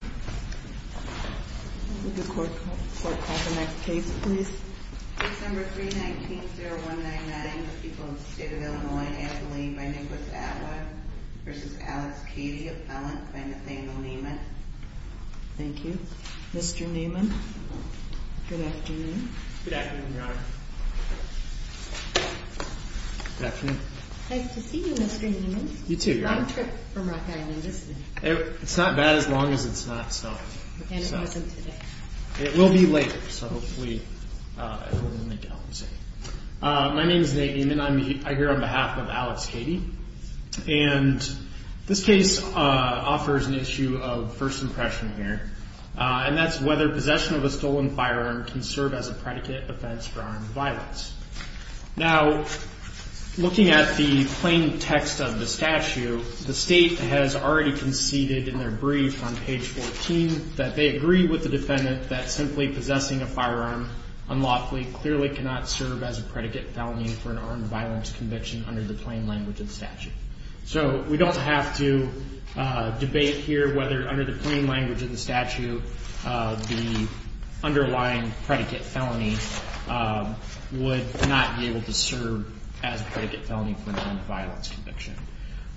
Good afternoon, Your Honor. Nice to see you, Mr. Niemann. You too, Your Honor. Long trip today. It will be later, so hopefully it will make it on the scene. My name is Nate Niemann. I'm here on behalf of Alex Cady, and this case offers an issue of first impression here, and that's whether possession of a stolen firearm can serve as a predicate offense for armed violence. Now, looking at the plain text of the statute, the state has already conceded in their brief on page 14 that they agree with the defendant that simply possessing a firearm unlawfully clearly cannot serve as a predicate felony for an armed violence conviction under the plain language of the statute. So we don't have to debate here whether under the plain language of the statute the underlying predicate felony would not be able to serve as a predicate felony for an armed violence conviction.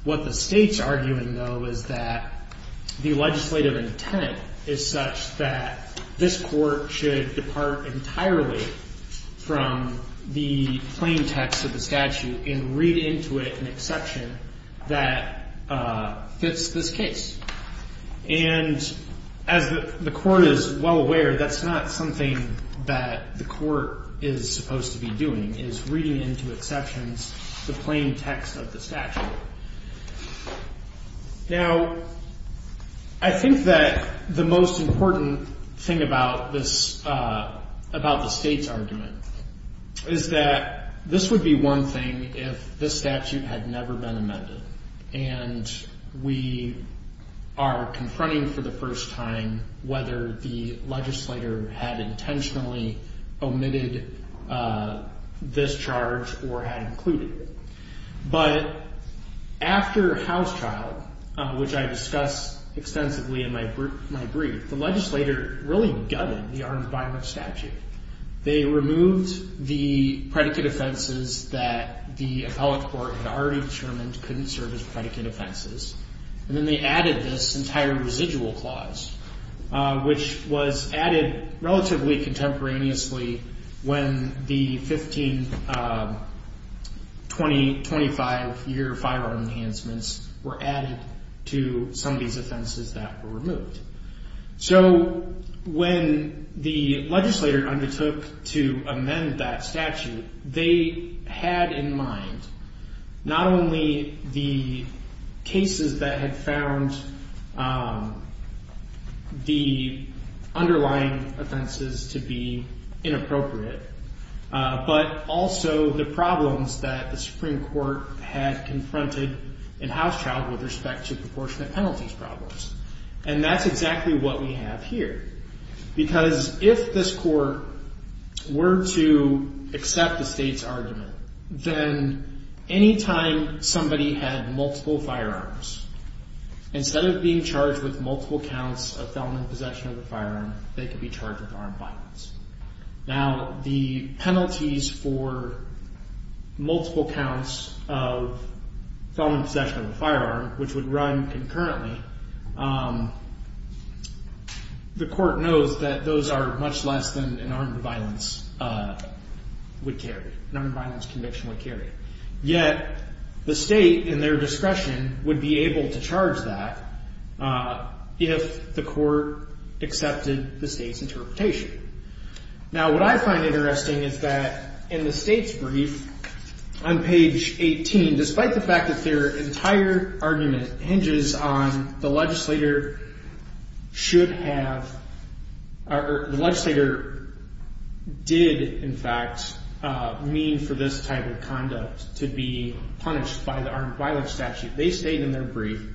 What the state's legislative intent is such that this Court should depart entirely from the plain text of the statute and read into it an exception that fits this case. And as the Court is well aware, that's not something that the Court is supposed to be doing, is reading into I think that the most important thing about the state's argument is that this would be one thing if this statute had never been amended, and we are confronting for the first time whether the legislator had intentionally omitted this charge or had included it. But after House trial, which I discussed extensively in my brief, the legislator really gutted the armed violence statute. They removed the predicate offenses that the appellate court had already determined couldn't serve as predicate offenses, and then they added this entire residual clause, which was added relatively contemporaneously when the 15, 20, 25 year firearm enhancements were added to some of these offenses that were removed. So when the legislator undertook to amend that statute, they had in mind not only the cases that had found the underlying offenses to be inappropriate, but also the problems that the Supreme Court had confronted in House trial with respect to proportionate penalties problems. And that's exactly what we have here. Because if this Court were to accept the state's argument, then any time somebody had multiple firearms, instead of being charged with multiple counts of felony possession of a firearm, they could be charged with armed violence. Now, the penalties for multiple counts of felony possession of a firearm, which would run concurrently, the court knows that those are much less than an armed violence would carry, an armed violence conviction would carry. Yet the state, in their discretion, would be able to Now, what I find interesting is that in the state's brief on page 18, despite the fact that their entire argument hinges on the legislator should have, or the legislator did, in fact, mean for this type of conduct to be punished by the armed violence statute, they state in their brief,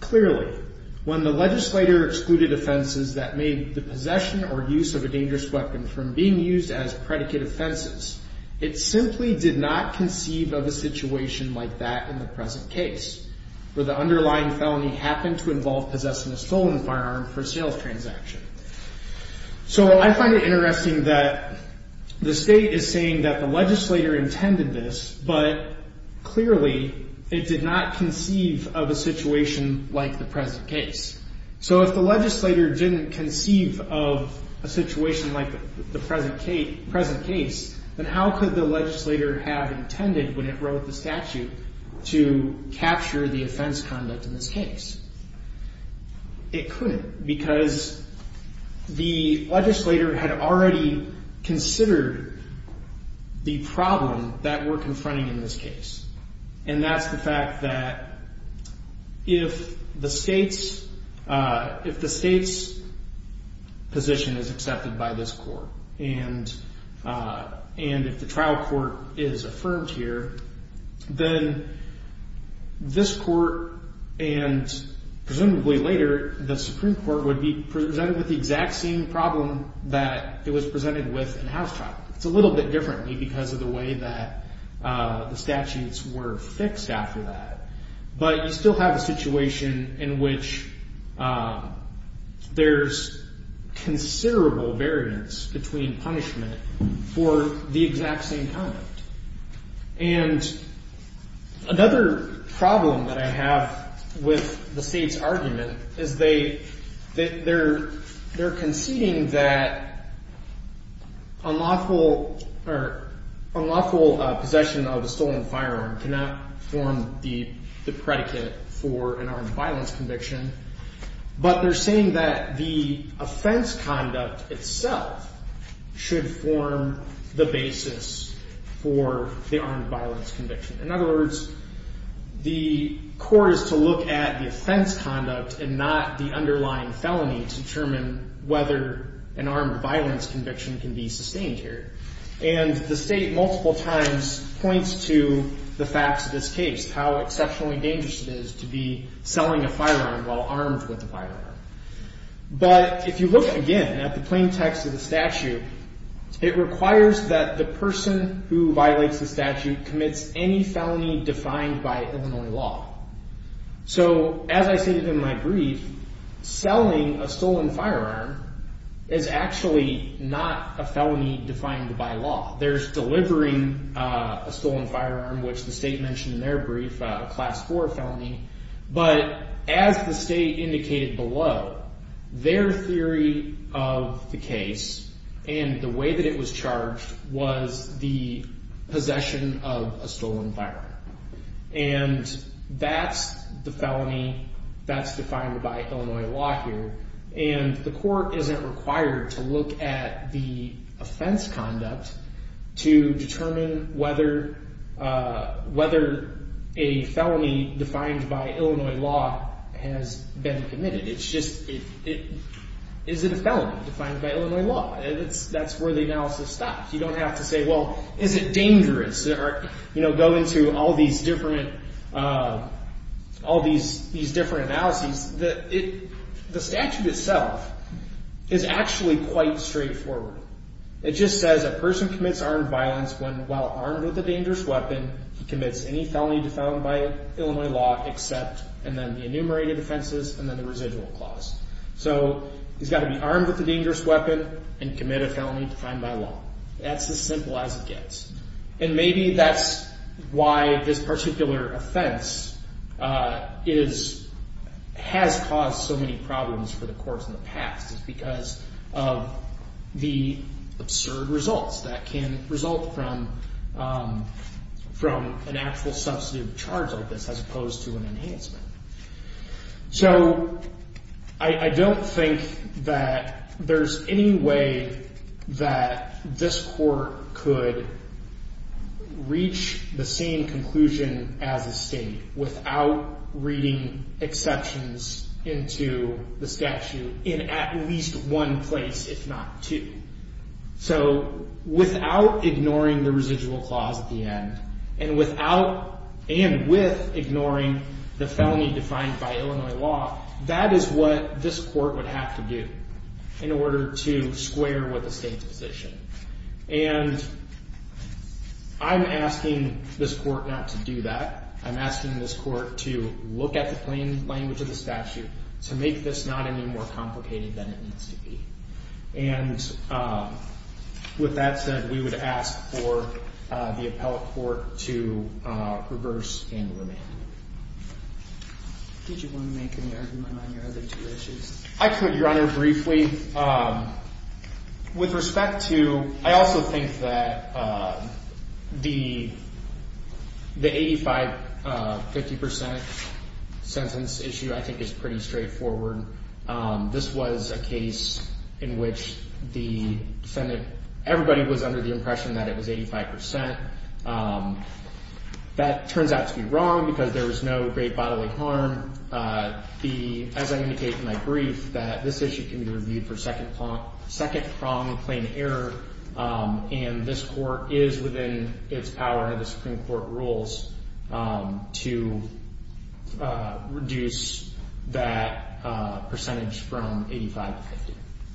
Clearly, when the legislator excluded offenses that made the possession or use of a dangerous weapon from being used as predicate offenses, it simply did not conceive of a situation like that in the present case, where the underlying felony happened to involve possessing a stolen firearm for a sales transaction. So I find it interesting that the state is saying that the legislator intended this, but clearly it did not conceive of a situation like the present case. So if the legislator didn't conceive of a situation like the present case, then how could the legislator have intended, when it wrote the statute, to capture the offense conduct in this case? It couldn't, because the legislator had already considered the problem that we're confronting in this case, and that's the fact that if the state's position is accepted by this court, and if the presumably later, the Supreme Court would be presented with the exact same problem that it was presented with in Housetrap. It's a little bit differently because of the way that the statutes were fixed after that, but you still have a situation in which there's considerable variance between punishment for the exact same conduct. And another problem that I have with the state's argument is they're conceding that unlawful possession of a stolen firearm cannot form the predicate for an armed violence conviction, but they're saying that the offense conduct itself should form the basis for the armed violence conviction. In other words, the court is to look at the offense conduct and not the underlying felony to determine whether an armed violence conviction can be sustained here. And the state multiple times points to the facts of this case, how exceptionally dangerous it is to be selling a firearm while armed with a firearm. But if you look again at the plain text of the statute, it requires that the person who violates the statute commits any felony defined by Illinois law. So as I stated in my brief, selling a stolen firearm is actually not a felony defined by law. There's delivering a stolen firearm, which the state mentioned in their brief, a Class 4 felony. But as the state indicated below, their theory of the case and the way that it was charged was the possession of a stolen firearm. And that's the felony that's defined by Illinois law here. And the court isn't required to look at the offense conduct to determine whether a felony defined by Illinois law has been committed. It's just, is it a felony defined by Illinois law? And that's where the analysis stops. You don't have to say, well, is it dangerous? Or go into all these different analyses. The statute itself is actually quite straightforward. It just says a person commits armed violence when, while armed with a dangerous weapon, he commits any felony defined by Illinois law except, and then the enumerated offenses, and then the residual clause. So he's got to be armed with a dangerous weapon and commit a felony defined by law. That's as simple as it gets. And maybe that's why this particular offense has caused so many problems for the courts in the past. It's because of the absurd results that can result from an actual substantive charge like this as opposed to an enhancement. So I don't think that there's any way that this court could reach the same conclusion as a state without reading exceptions into the statute in at least one place, if not two. So without ignoring the residual clause at the end, and without and with ignoring the felony defined by Illinois law, that is what this court would have to do in order to square with the state's position. And I'm asking this court not to do that. I'm asking this court to look at the plain language of the statute to make this not any more complicated than it needs to be. And with that said, we would ask for the appellate court to reverse and remand. Did you want to make an argument on your other two issues? I could, Your Honor, briefly. With respect to, I also think that the 85-50% sentence issue I think is pretty straightforward. This was a case in which the defendant, everybody was under the impression that it was 85%. That turns out to be wrong, because there was no great bodily harm. As I indicated in my brief, that this issue can be reviewed for second-pronged plain error, and this court is within its power under the Supreme Court rules to reduce that percentage from 85-50.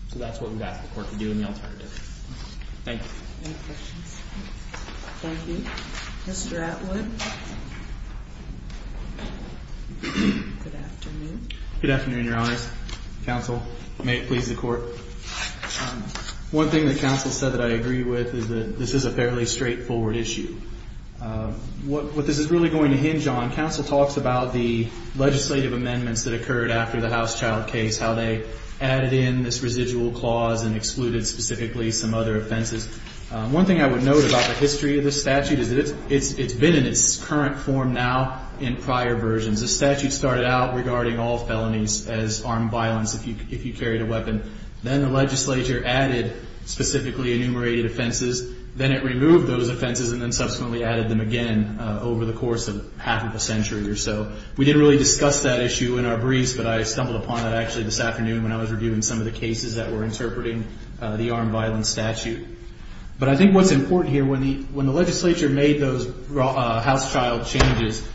So that's what we'd ask the court to do in the alternative. Thank you. Any questions? Thank you. Mr. Atwood. Good afternoon. Good afternoon, Your Honors. Counsel, may it please the Court. One thing that counsel said that I agree with is that this is a fairly straightforward issue. What this is really going to hinge on, counsel talks about the legislative amendments that occurred after the House Child case, how they added in this residual clause and excluded specifically some other offenses. One thing I would note about the history of this statute is that it's been in its current form now in prior versions. The statute started out regarding all felonies as armed violence if you carried a weapon. Then the legislature added specifically enumerated offenses. Then it removed those offenses and then subsequently added them again over the course of half of a century or so. We didn't really discuss that issue in our briefs, but I stumbled upon it actually this afternoon when I was reviewing some of the cases that were interpreting the armed violence statute. But I think what's important here, when the legislature made those House Child changes,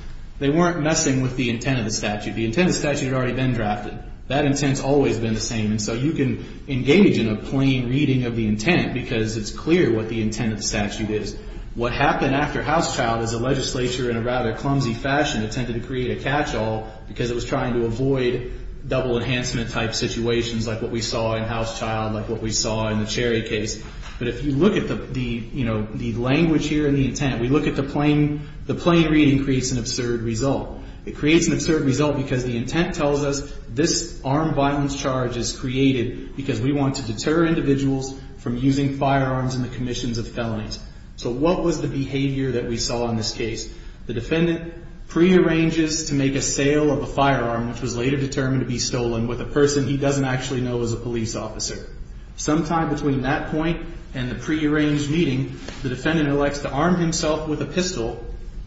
they weren't messing with the intent of the statute. The intent of the statute had already been drafted. That intent's always been the same, and so you can engage in a plain reading of the intent because it's clear what the intent of the statute is. What happened after House Child is the legislature, in a rather clumsy fashion, attempted to create a catch-all because it was trying to avoid double enhancement type situations like what we saw in House Child, like what we saw in the Cherry case. But if you look at the language here and the intent, we look at the plain reading and the plain reading creates an absurd result. It creates an absurd result because the intent tells us this armed violence charge is created because we want to deter individuals from using firearms in the commissions of felonies. So what was the behavior that we saw in this case? The defendant prearranges to make a sale of a firearm, which was later determined to be stolen, with a person he doesn't actually know as a police officer. Sometime between that point and the prearranged meeting, the defendant elects to arm himself with a pistol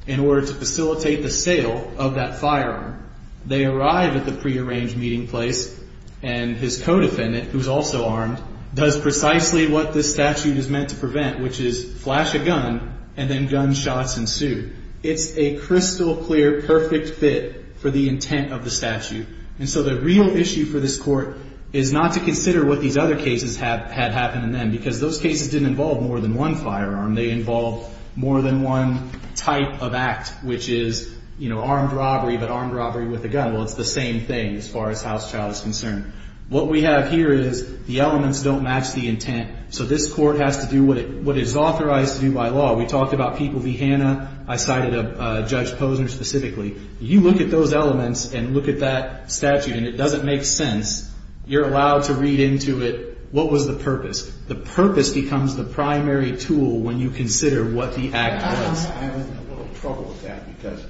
in order to facilitate the sale of that firearm. They arrive at the prearranged meeting place and his co-defendant, who's also armed, does precisely what this statute is meant to prevent, which is flash a gun and then gunshots ensue. It's a crystal clear, perfect fit for the intent of the statute. And so the real issue for this Court is not to consider what these other cases had happened in them because those cases didn't involve more than one firearm. They involved more than one type of act, which is armed robbery, but armed robbery with a gun. Well, it's the same thing as far as House Child is concerned. What we have here is the elements don't match the intent, so this Court has to do what is authorized to do by law. We talked about people v. Hanna. I cited Judge Posner specifically. You look at those elements and look at that statute, and it doesn't make sense. You're allowed to read into it what was the purpose. The purpose becomes the primary tool when you consider what the act was. I'm having a little trouble with that because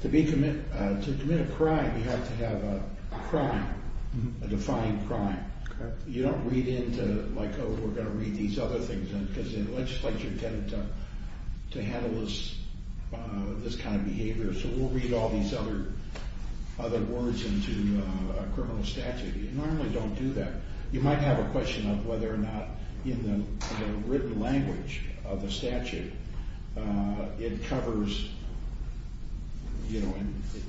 to commit a crime, you have to have a crime, a defined crime. You don't read into, like, oh, we're going to read these other things in because the legislature tended to handle this kind of behavior, so we'll read all these other words into a criminal statute. You normally don't do that. You might have a question of whether or not in the written language of the statute it covers, you know,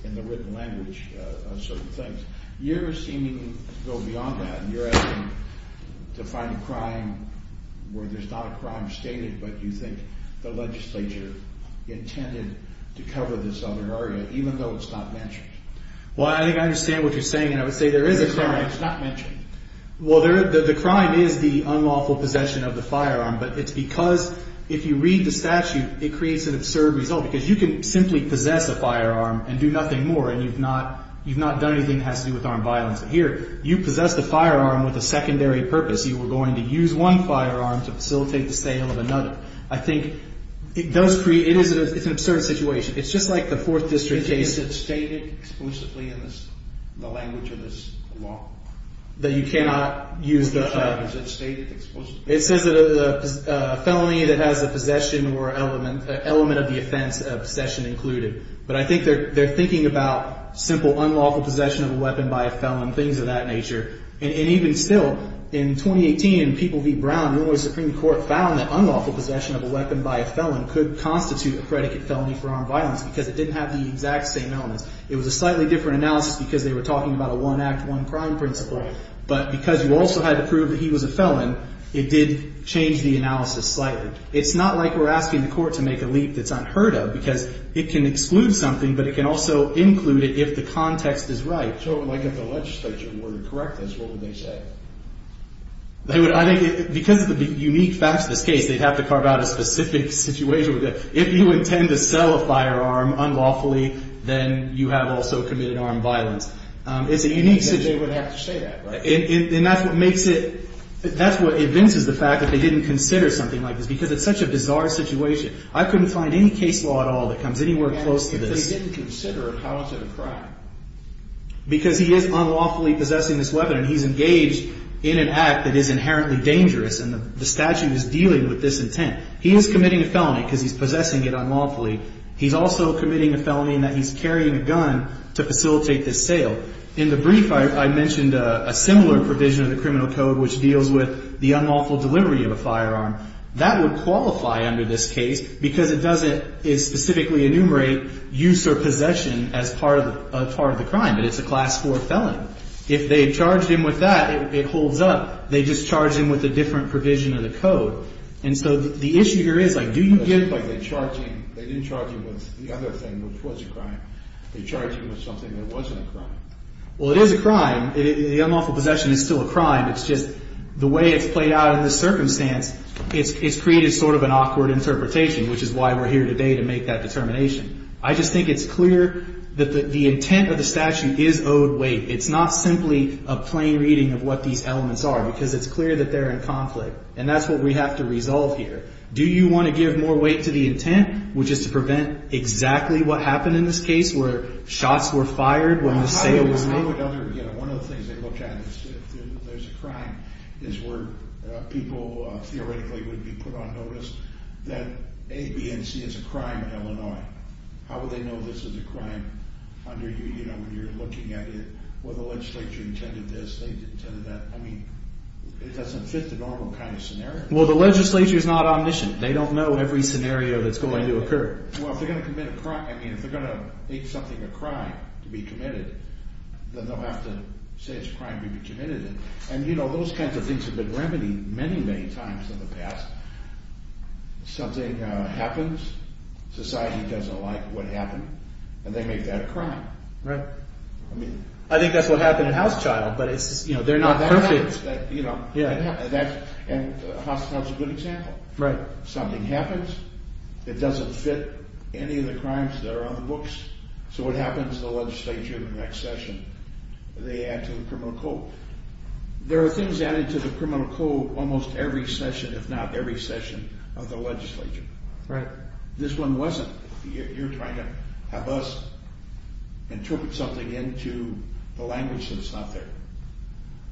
in the written language of certain things. You're seeming to go beyond that, and you're asking to find a crime where there's not a crime stated but you think the legislature intended to cover this other area even though it's not mentioned. Well, I think I understand what you're saying, and I would say there is a crime. It's not mentioned. Well, the crime is the unlawful possession of the firearm, but it's because if you read the statute, it creates an absurd result because you can simply possess a firearm and do nothing more, and you've not done anything that has to do with armed violence. But here, you possess the firearm with a secondary purpose. You were going to use one firearm to facilitate the sale of another. I think it does create – it's an absurd situation. It's just like the Fourth District case. Is it stated explicitly in the language of this law? That you cannot use the – Is it stated explicitly? It says that a felony that has a possession or element of the offense of possession included. But I think they're thinking about simple unlawful possession of a weapon by a felon, things of that nature. And even still, in 2018, People v. Brown, Illinois Supreme Court, found that unlawful possession of a weapon by a felon could constitute a predicate felony for armed violence because it didn't have the exact same elements. It was a slightly different analysis because they were talking about a one-act, one-crime principle. But because you also had to prove that he was a felon, it did change the analysis slightly. It's not like we're asking the court to make a leap that's unheard of because it can exclude something, but it can also include it if the context is right. So like if the legislature were to correct this, what would they say? I think because of the unique facts of this case, they'd have to carve out a specific situation. If you intend to sell a firearm unlawfully, then you have also committed armed violence. It's a unique situation. They would have to say that, right? And that's what makes it – that's what evinces the fact that they didn't consider something like this because it's such a bizarre situation. I couldn't find any case law at all that comes anywhere close to this. And if they didn't consider it, how is it a crime? Because he is unlawfully possessing this weapon, and he's engaged in an act that is inherently dangerous, and the statute is dealing with this intent. He is committing a felony because he's possessing it unlawfully. He's also committing a felony in that he's carrying a gun to facilitate this sale. In the brief, I mentioned a similar provision of the criminal code, which deals with the unlawful delivery of a firearm. That would qualify under this case because it doesn't specifically enumerate use or possession as part of the crime, but it's a Class IV felon. If they charged him with that, it holds up. They just charged him with a different provision of the code. And so the issue here is, like, do you get by the charging? They didn't charge him with the other thing, which was a crime. They charged him with something that wasn't a crime. Well, it is a crime. The unlawful possession is still a crime. It's just the way it's played out in this circumstance, it's created sort of an awkward interpretation, which is why we're here today to make that determination. I just think it's clear that the intent of the statute is owed weight. It's not simply a plain reading of what these elements are because it's clear that they're in conflict, and that's what we have to resolve here. Do you want to give more weight to the intent, which is to prevent exactly what happened in this case, where shots were fired, when the sale was made? One of the things they looked at is if there's a crime, is where people theoretically would be put on notice that A, B, and C is a crime in Illinois. How would they know this is a crime under you? You know, when you're looking at it, well, the legislature intended this, they intended that. I mean, it doesn't fit the normal kind of scenario. Well, the legislature is not omniscient. They don't know every scenario that's going to occur. Well, if they're going to commit a crime, I mean, if they're going to make something a crime to be committed, then they'll have to say it's a crime to be committed. And, you know, those kinds of things have been remedied many, many times in the past. Something happens, society doesn't like what happened, and they make that a crime. Right. I mean, I think that's what happened in Housechild, but it's, you know, they're not perfect. You know, and Housechild's a good example. Right. Something happens, it doesn't fit any of the crimes that are on the books, so what happens to the legislature the next session? They add to the criminal code. There are things added to the criminal code almost every session, if not every session, of the legislature. Right. This one wasn't. You're trying to have us interpret something into the language that's not there.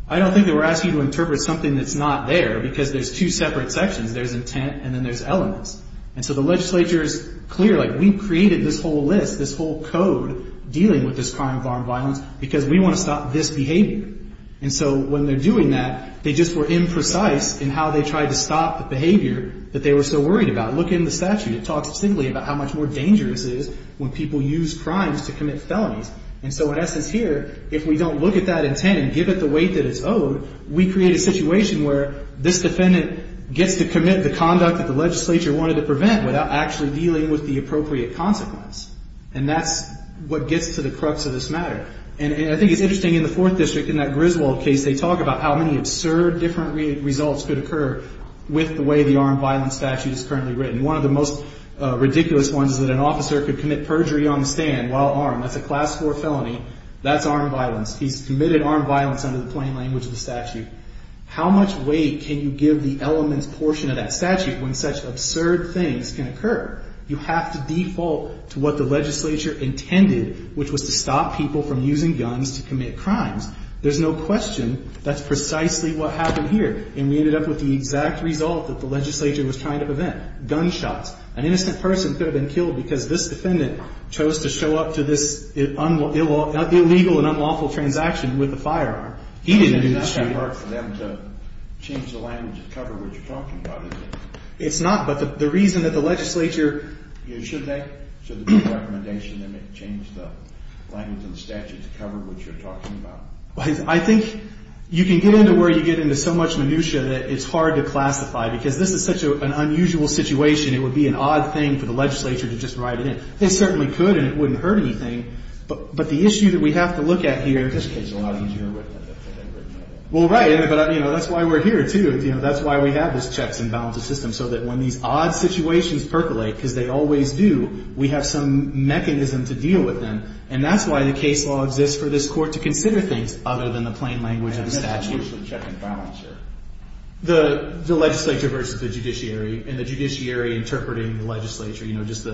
I don't think they were asking you to interpret something that's not there because there's two separate sections. There's intent and then there's elements. And so the legislature's clear, like, we created this whole list, this whole code, dealing with this crime of armed violence because we want to stop this behavior. And so when they're doing that, they just were imprecise in how they tried to stop the behavior that they were so worried about. Look in the statute. It talks distinctly about how much more dangerous it is when people use crimes to commit felonies. And so in essence here, if we don't look at that intent and give it the weight that it's owed, we create a situation where this defendant gets to commit the conduct that the legislature wanted to prevent without actually dealing with the appropriate consequence. And that's what gets to the crux of this matter. And I think it's interesting in the Fourth District, in that Griswold case, they talk about how many absurd different results could occur with the way the armed violence statute is currently written. One of the most ridiculous ones is that an officer could commit perjury on the stand while armed. That's a Class IV felony. That's armed violence. He's committed armed violence under the plain language of the statute. How much weight can you give the elements portion of that statute when such absurd things can occur? You have to default to what the legislature intended, which was to stop people from using guns to commit crimes. There's no question that's precisely what happened here. And we ended up with the exact result that the legislature was trying to prevent, gunshots. An innocent person could have been killed because this defendant chose to show up to this illegal and unlawful transaction with a firearm. He didn't do the shooting. It's not that hard for them to change the language to cover what you're talking about, is it? It's not. But the reason that the legislature – Should they? Should there be a recommendation to change the language in the statute to cover what you're talking about? I think you can get into where you get into so much minutiae that it's hard to classify because this is such an unusual situation. It would be an odd thing for the legislature to just write it in. They certainly could and it wouldn't hurt anything, but the issue that we have to look at here – This case is a lot easier with the way they've written it. Well, right, but that's why we're here, too. That's why we have these checks and balances systems, so that when these odd situations percolate, because they always do, we have some mechanism to deal with them. And that's why the case law exists for this court to consider things other than the plain language of the statute. What's the check and balance here? The legislature versus the judiciary and the judiciary interpreting the legislature, just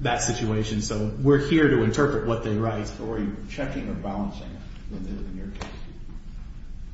that situation. So we're here to interpret what they write. Are you checking or balancing it in your case?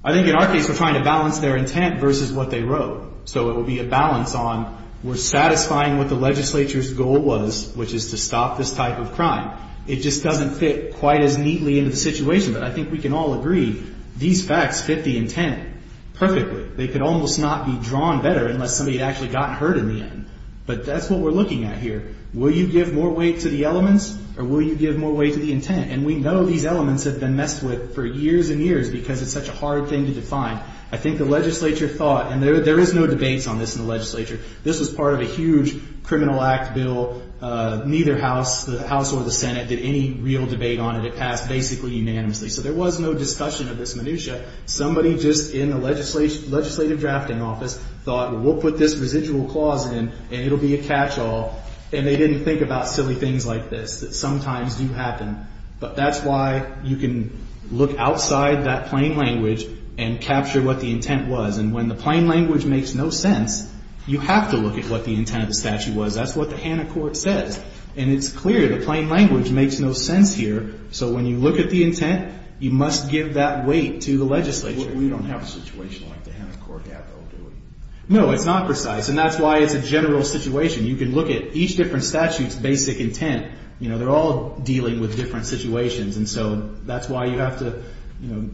I think in our case we're trying to balance their intent versus what they wrote. So it would be a balance on we're satisfying what the legislature's goal was, which is to stop this type of crime. It just doesn't fit quite as neatly into the situation, but I think we can all agree these facts fit the intent perfectly. They could almost not be drawn better unless somebody had actually gotten hurt in the end. But that's what we're looking at here. Will you give more weight to the elements or will you give more weight to the intent? And we know these elements have been messed with for years and years because it's such a hard thing to define. I think the legislature thought, and there is no debates on this in the legislature. This was part of a huge criminal act bill. Neither House or the Senate did any real debate on it. It passed basically unanimously. So there was no discussion of this minutia. Somebody just in the legislative drafting office thought, well, we'll put this residual clause in and it will be a catchall. And they didn't think about silly things like this that sometimes do happen. But that's why you can look outside that plain language and capture what the intent was. And when the plain language makes no sense, you have to look at what the intent of the statute was. That's what the Hanna Court says. And it's clear the plain language makes no sense here. So when you look at the intent, you must give that weight to the legislature. We don't have a situation like the Hanna Court have, though, do we? No, it's not precise. And that's why it's a general situation. You can look at each different statute's basic intent. They're all dealing with different situations. And so that's why you have to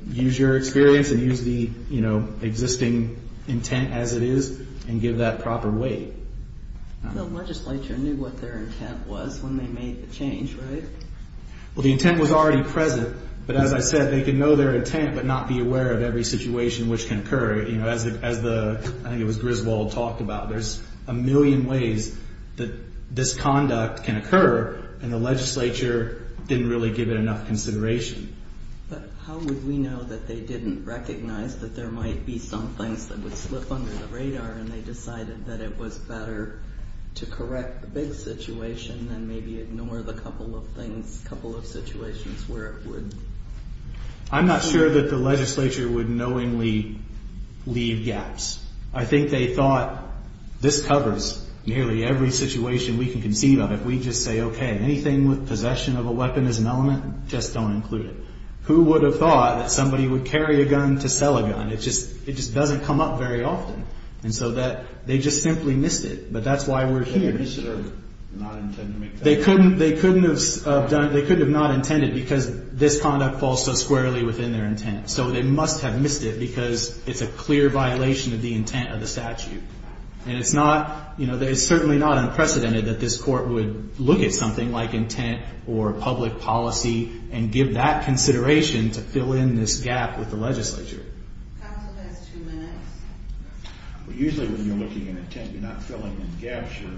use your experience and use the existing intent as it is and give that proper weight. The legislature knew what their intent was when they made the change, right? Well, the intent was already present. But as I said, they could know their intent but not be aware of every situation which can occur. As I think it was Griswold talked about, there's a million ways that this conduct can occur, and the legislature didn't really give it enough consideration. But how would we know that they didn't recognize that there might be some things that would slip under the radar and they decided that it was better to correct the big situation than maybe ignore the couple of things, couple of situations where it would. I'm not sure that the legislature would knowingly leave gaps. I think they thought this covers nearly every situation we can conceive of. If we just say, okay, anything with possession of a weapon as an element, just don't include it. Who would have thought that somebody would carry a gun to sell a gun? It just doesn't come up very often. And so they just simply missed it. But that's why we're here. They could have disturbed it and not intended to make that mistake. Because this conduct falls so squarely within their intent. So they must have missed it because it's a clear violation of the intent of the statute. And it's certainly not unprecedented that this court would look at something like intent or public policy and give that consideration to fill in this gap with the legislature. Usually when you're looking at intent, you're not filling in gaps. You're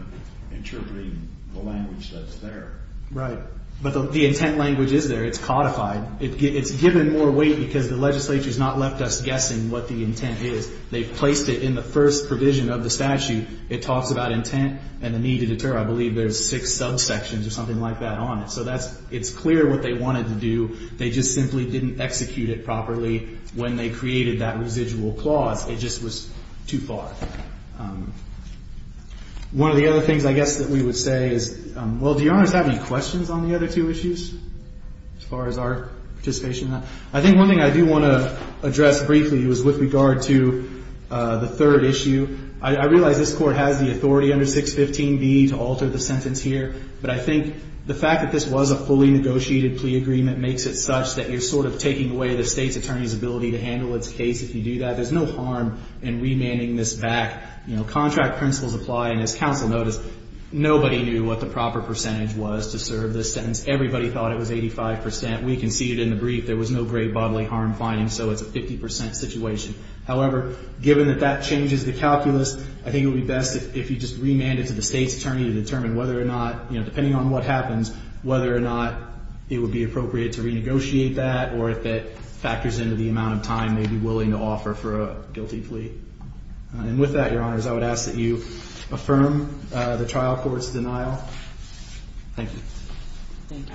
interpreting the language that's there. Right. But the intent language is there. It's codified. It's given more weight because the legislature has not left us guessing what the intent is. They've placed it in the first provision of the statute. It talks about intent and the need to deter. I believe there's six subsections or something like that on it. So it's clear what they wanted to do. They just simply didn't execute it properly when they created that residual clause. It just was too far. One of the other things, I guess, that we would say is, well, do Your Honors have any questions on the other two issues as far as our participation in that? I think one thing I do want to address briefly was with regard to the third issue. I realize this Court has the authority under 615B to alter the sentence here. But I think the fact that this was a fully negotiated plea agreement makes it such that you're sort of taking away the State's attorney's ability to handle its case if you do that. There's no harm in remanding this back. Contract principles apply. And as counsel noticed, nobody knew what the proper percentage was to serve this sentence. Everybody thought it was 85%. We conceded in the brief there was no grave bodily harm finding, so it's a 50% situation. However, given that that changes the calculus, I think it would be best if you just remand it to the State's attorney to determine whether or not, depending on what happens, whether or not it would be appropriate to renegotiate that or if it factors into the amount of time they'd be willing to offer for a guilty plea. And with that, Your Honors, I would ask that you affirm the trial court's denial. Thank you. Thank you.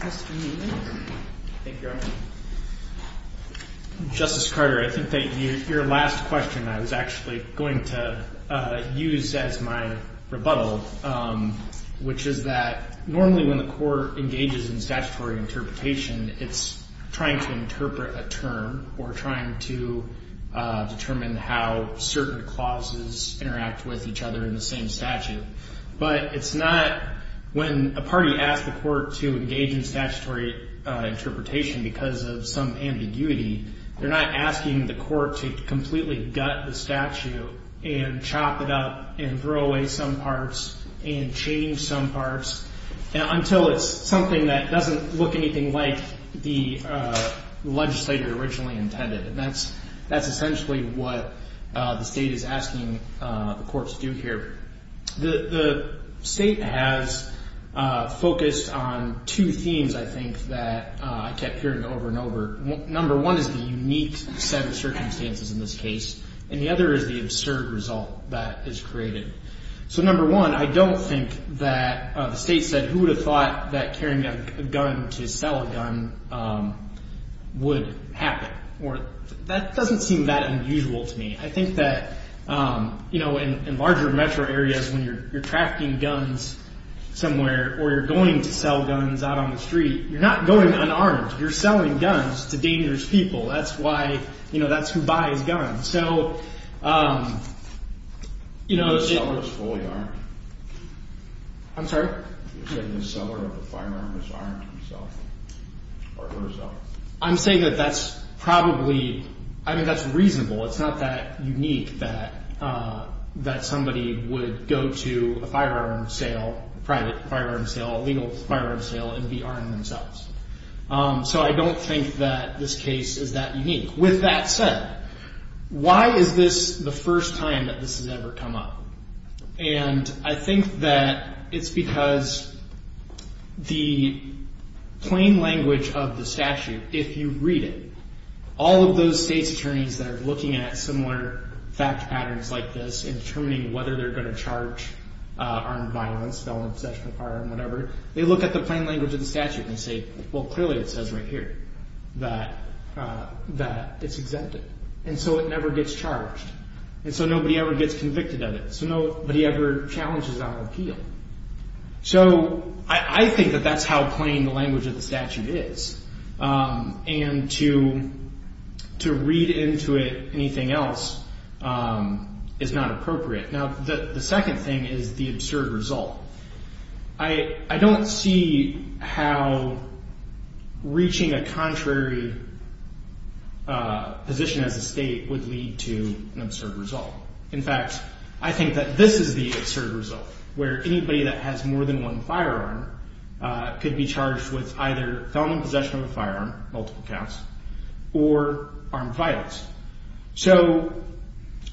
Mr. Newman. Thank you, Your Honor. Justice Carter, I think that your last question I was actually going to use as my rebuttal, which is that normally when the court engages in statutory interpretation, it's trying to interpret a term or trying to determine how certain clauses interact with each other in the same statute. But it's not when a party asks the court to engage in statutory interpretation because of some ambiguity, they're not asking the court to completely gut the statute and chop it up and throw away some parts and change some parts until it's something that doesn't look anything like the legislator originally intended. And that's essentially what the State is asking the court to do here. The State has focused on two themes, I think, that I kept hearing over and over. Number one is the unique set of circumstances in this case. And the other is the absurd result that is created. So number one, I don't think that the State said, who would have thought that carrying a gun to sell a gun would happen? That doesn't seem that unusual to me. I think that in larger metro areas when you're trafficking guns somewhere or you're going to sell guns out on the street, you're not going unarmed. You're selling guns to dangerous people. That's who buys guns. You're not unarmed. So, you know... If the seller is fully armed. I'm sorry? If the seller of the firearm is armed himself or herself. I'm saying that that's probably, I mean, that's reasonable. It's not that unique that somebody would go to a firearm sale, a private firearm sale, a legal firearm sale, and be armed themselves. So I don't think that this case is that unique. With that said, why is this the first time that this has ever come up? And I think that it's because the plain language of the statute, if you read it, all of those State's attorneys that are looking at similar fact patterns like this and determining whether they're going to charge armed violence, felony possession of firearm, whatever, they look at the plain language of the statute and say, well, clearly it says right here that it's exempted. And so it never gets charged. And so nobody ever gets convicted of it. So nobody ever challenges our appeal. So I think that that's how plain the language of the statute is. And to read into it anything else is not appropriate. Now, the second thing is the absurd result. I don't see how reaching a contrary position as a State would lead to an absurd result. In fact, I think that this is the absurd result, where anybody that has more than one firearm could be charged with either felony possession of a firearm, multiple counts, or armed violence.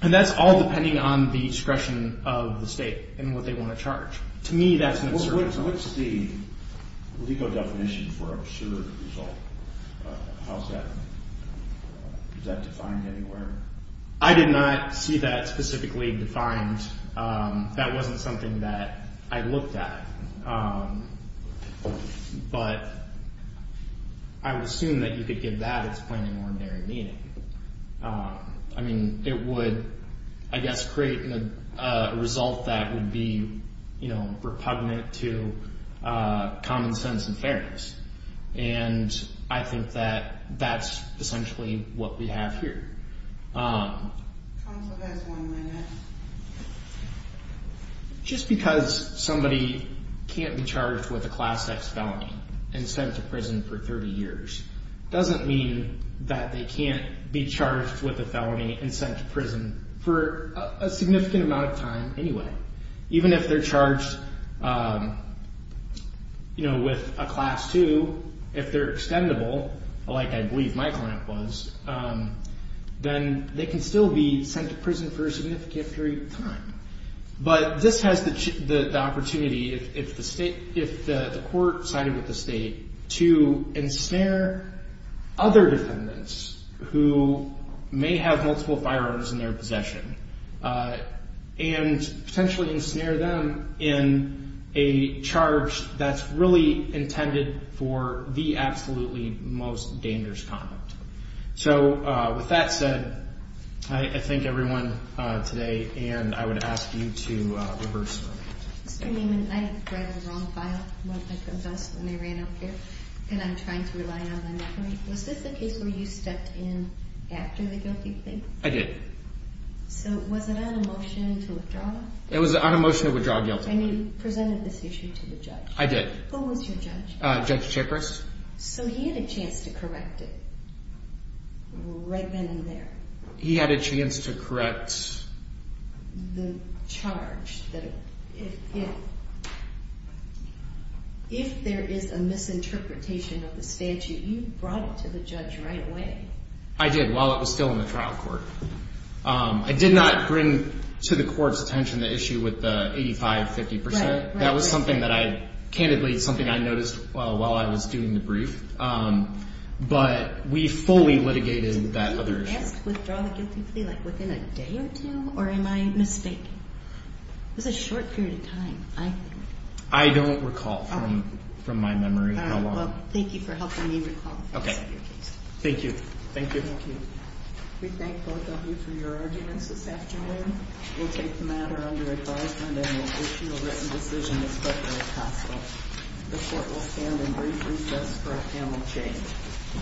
And that's all depending on the discretion of the State and what they want to charge. To me, that's an absurd result. What's the legal definition for absurd result? How is that defined anywhere? I did not see that specifically defined. That wasn't something that I looked at. But I would assume that you could give that its plain and ordinary meaning. I mean, it would, I guess, create a result that would be, you know, repugnant to common sense and fairness. And I think that that's essentially what we have here. Counsel, that's one minute. Just because somebody can't be charged with a Class X felony and sent to prison for 30 years doesn't mean that they can't be charged with a felony and sent to prison for a significant amount of time anyway. Even if they're charged, you know, with a Class II, if they're extendable, like I believe my client was, then they can still be sent to prison for a significant period of time. But this has the opportunity, if the court sided with the State, to ensnare other defendants who may have multiple firearms in their possession and potentially ensnare them in a charge that's really intended for the absolutely most dangerous conduct. So, with that said, I thank everyone today. And I would ask you to reverse. Mr. Neiman, I read the wrong file. One of my friends asked when I ran up here. And I'm trying to rely on my memory. Was this the case where you stepped in after the guilty plea? I did. So, was it on a motion to withdraw? It was on a motion to withdraw guilty. And you presented this issue to the judge. I did. Who was your judge? Judge Chapris. So, he had a chance to correct it right then and there. He had a chance to correct the charge. If there is a misinterpretation of the statute, you brought it to the judge right away. I did, while it was still in the trial court. I did not bring to the court's attention the issue with the 85-50%. That was something that I, candidly, something I noticed while I was doing the brief. But we fully litigated that other issue. Were you asked to withdraw the guilty plea like within a day or two? Or am I mistaken? It was a short period of time, I think. I don't recall from my memory how long. Well, thank you for helping me recall. Okay. Thank you. Thank you. Thank you. We thank both of you for your arguments this afternoon. We'll take the matter under advisement and we'll issue a written decision as quickly as possible. The court will stand in brief recess for a panel change.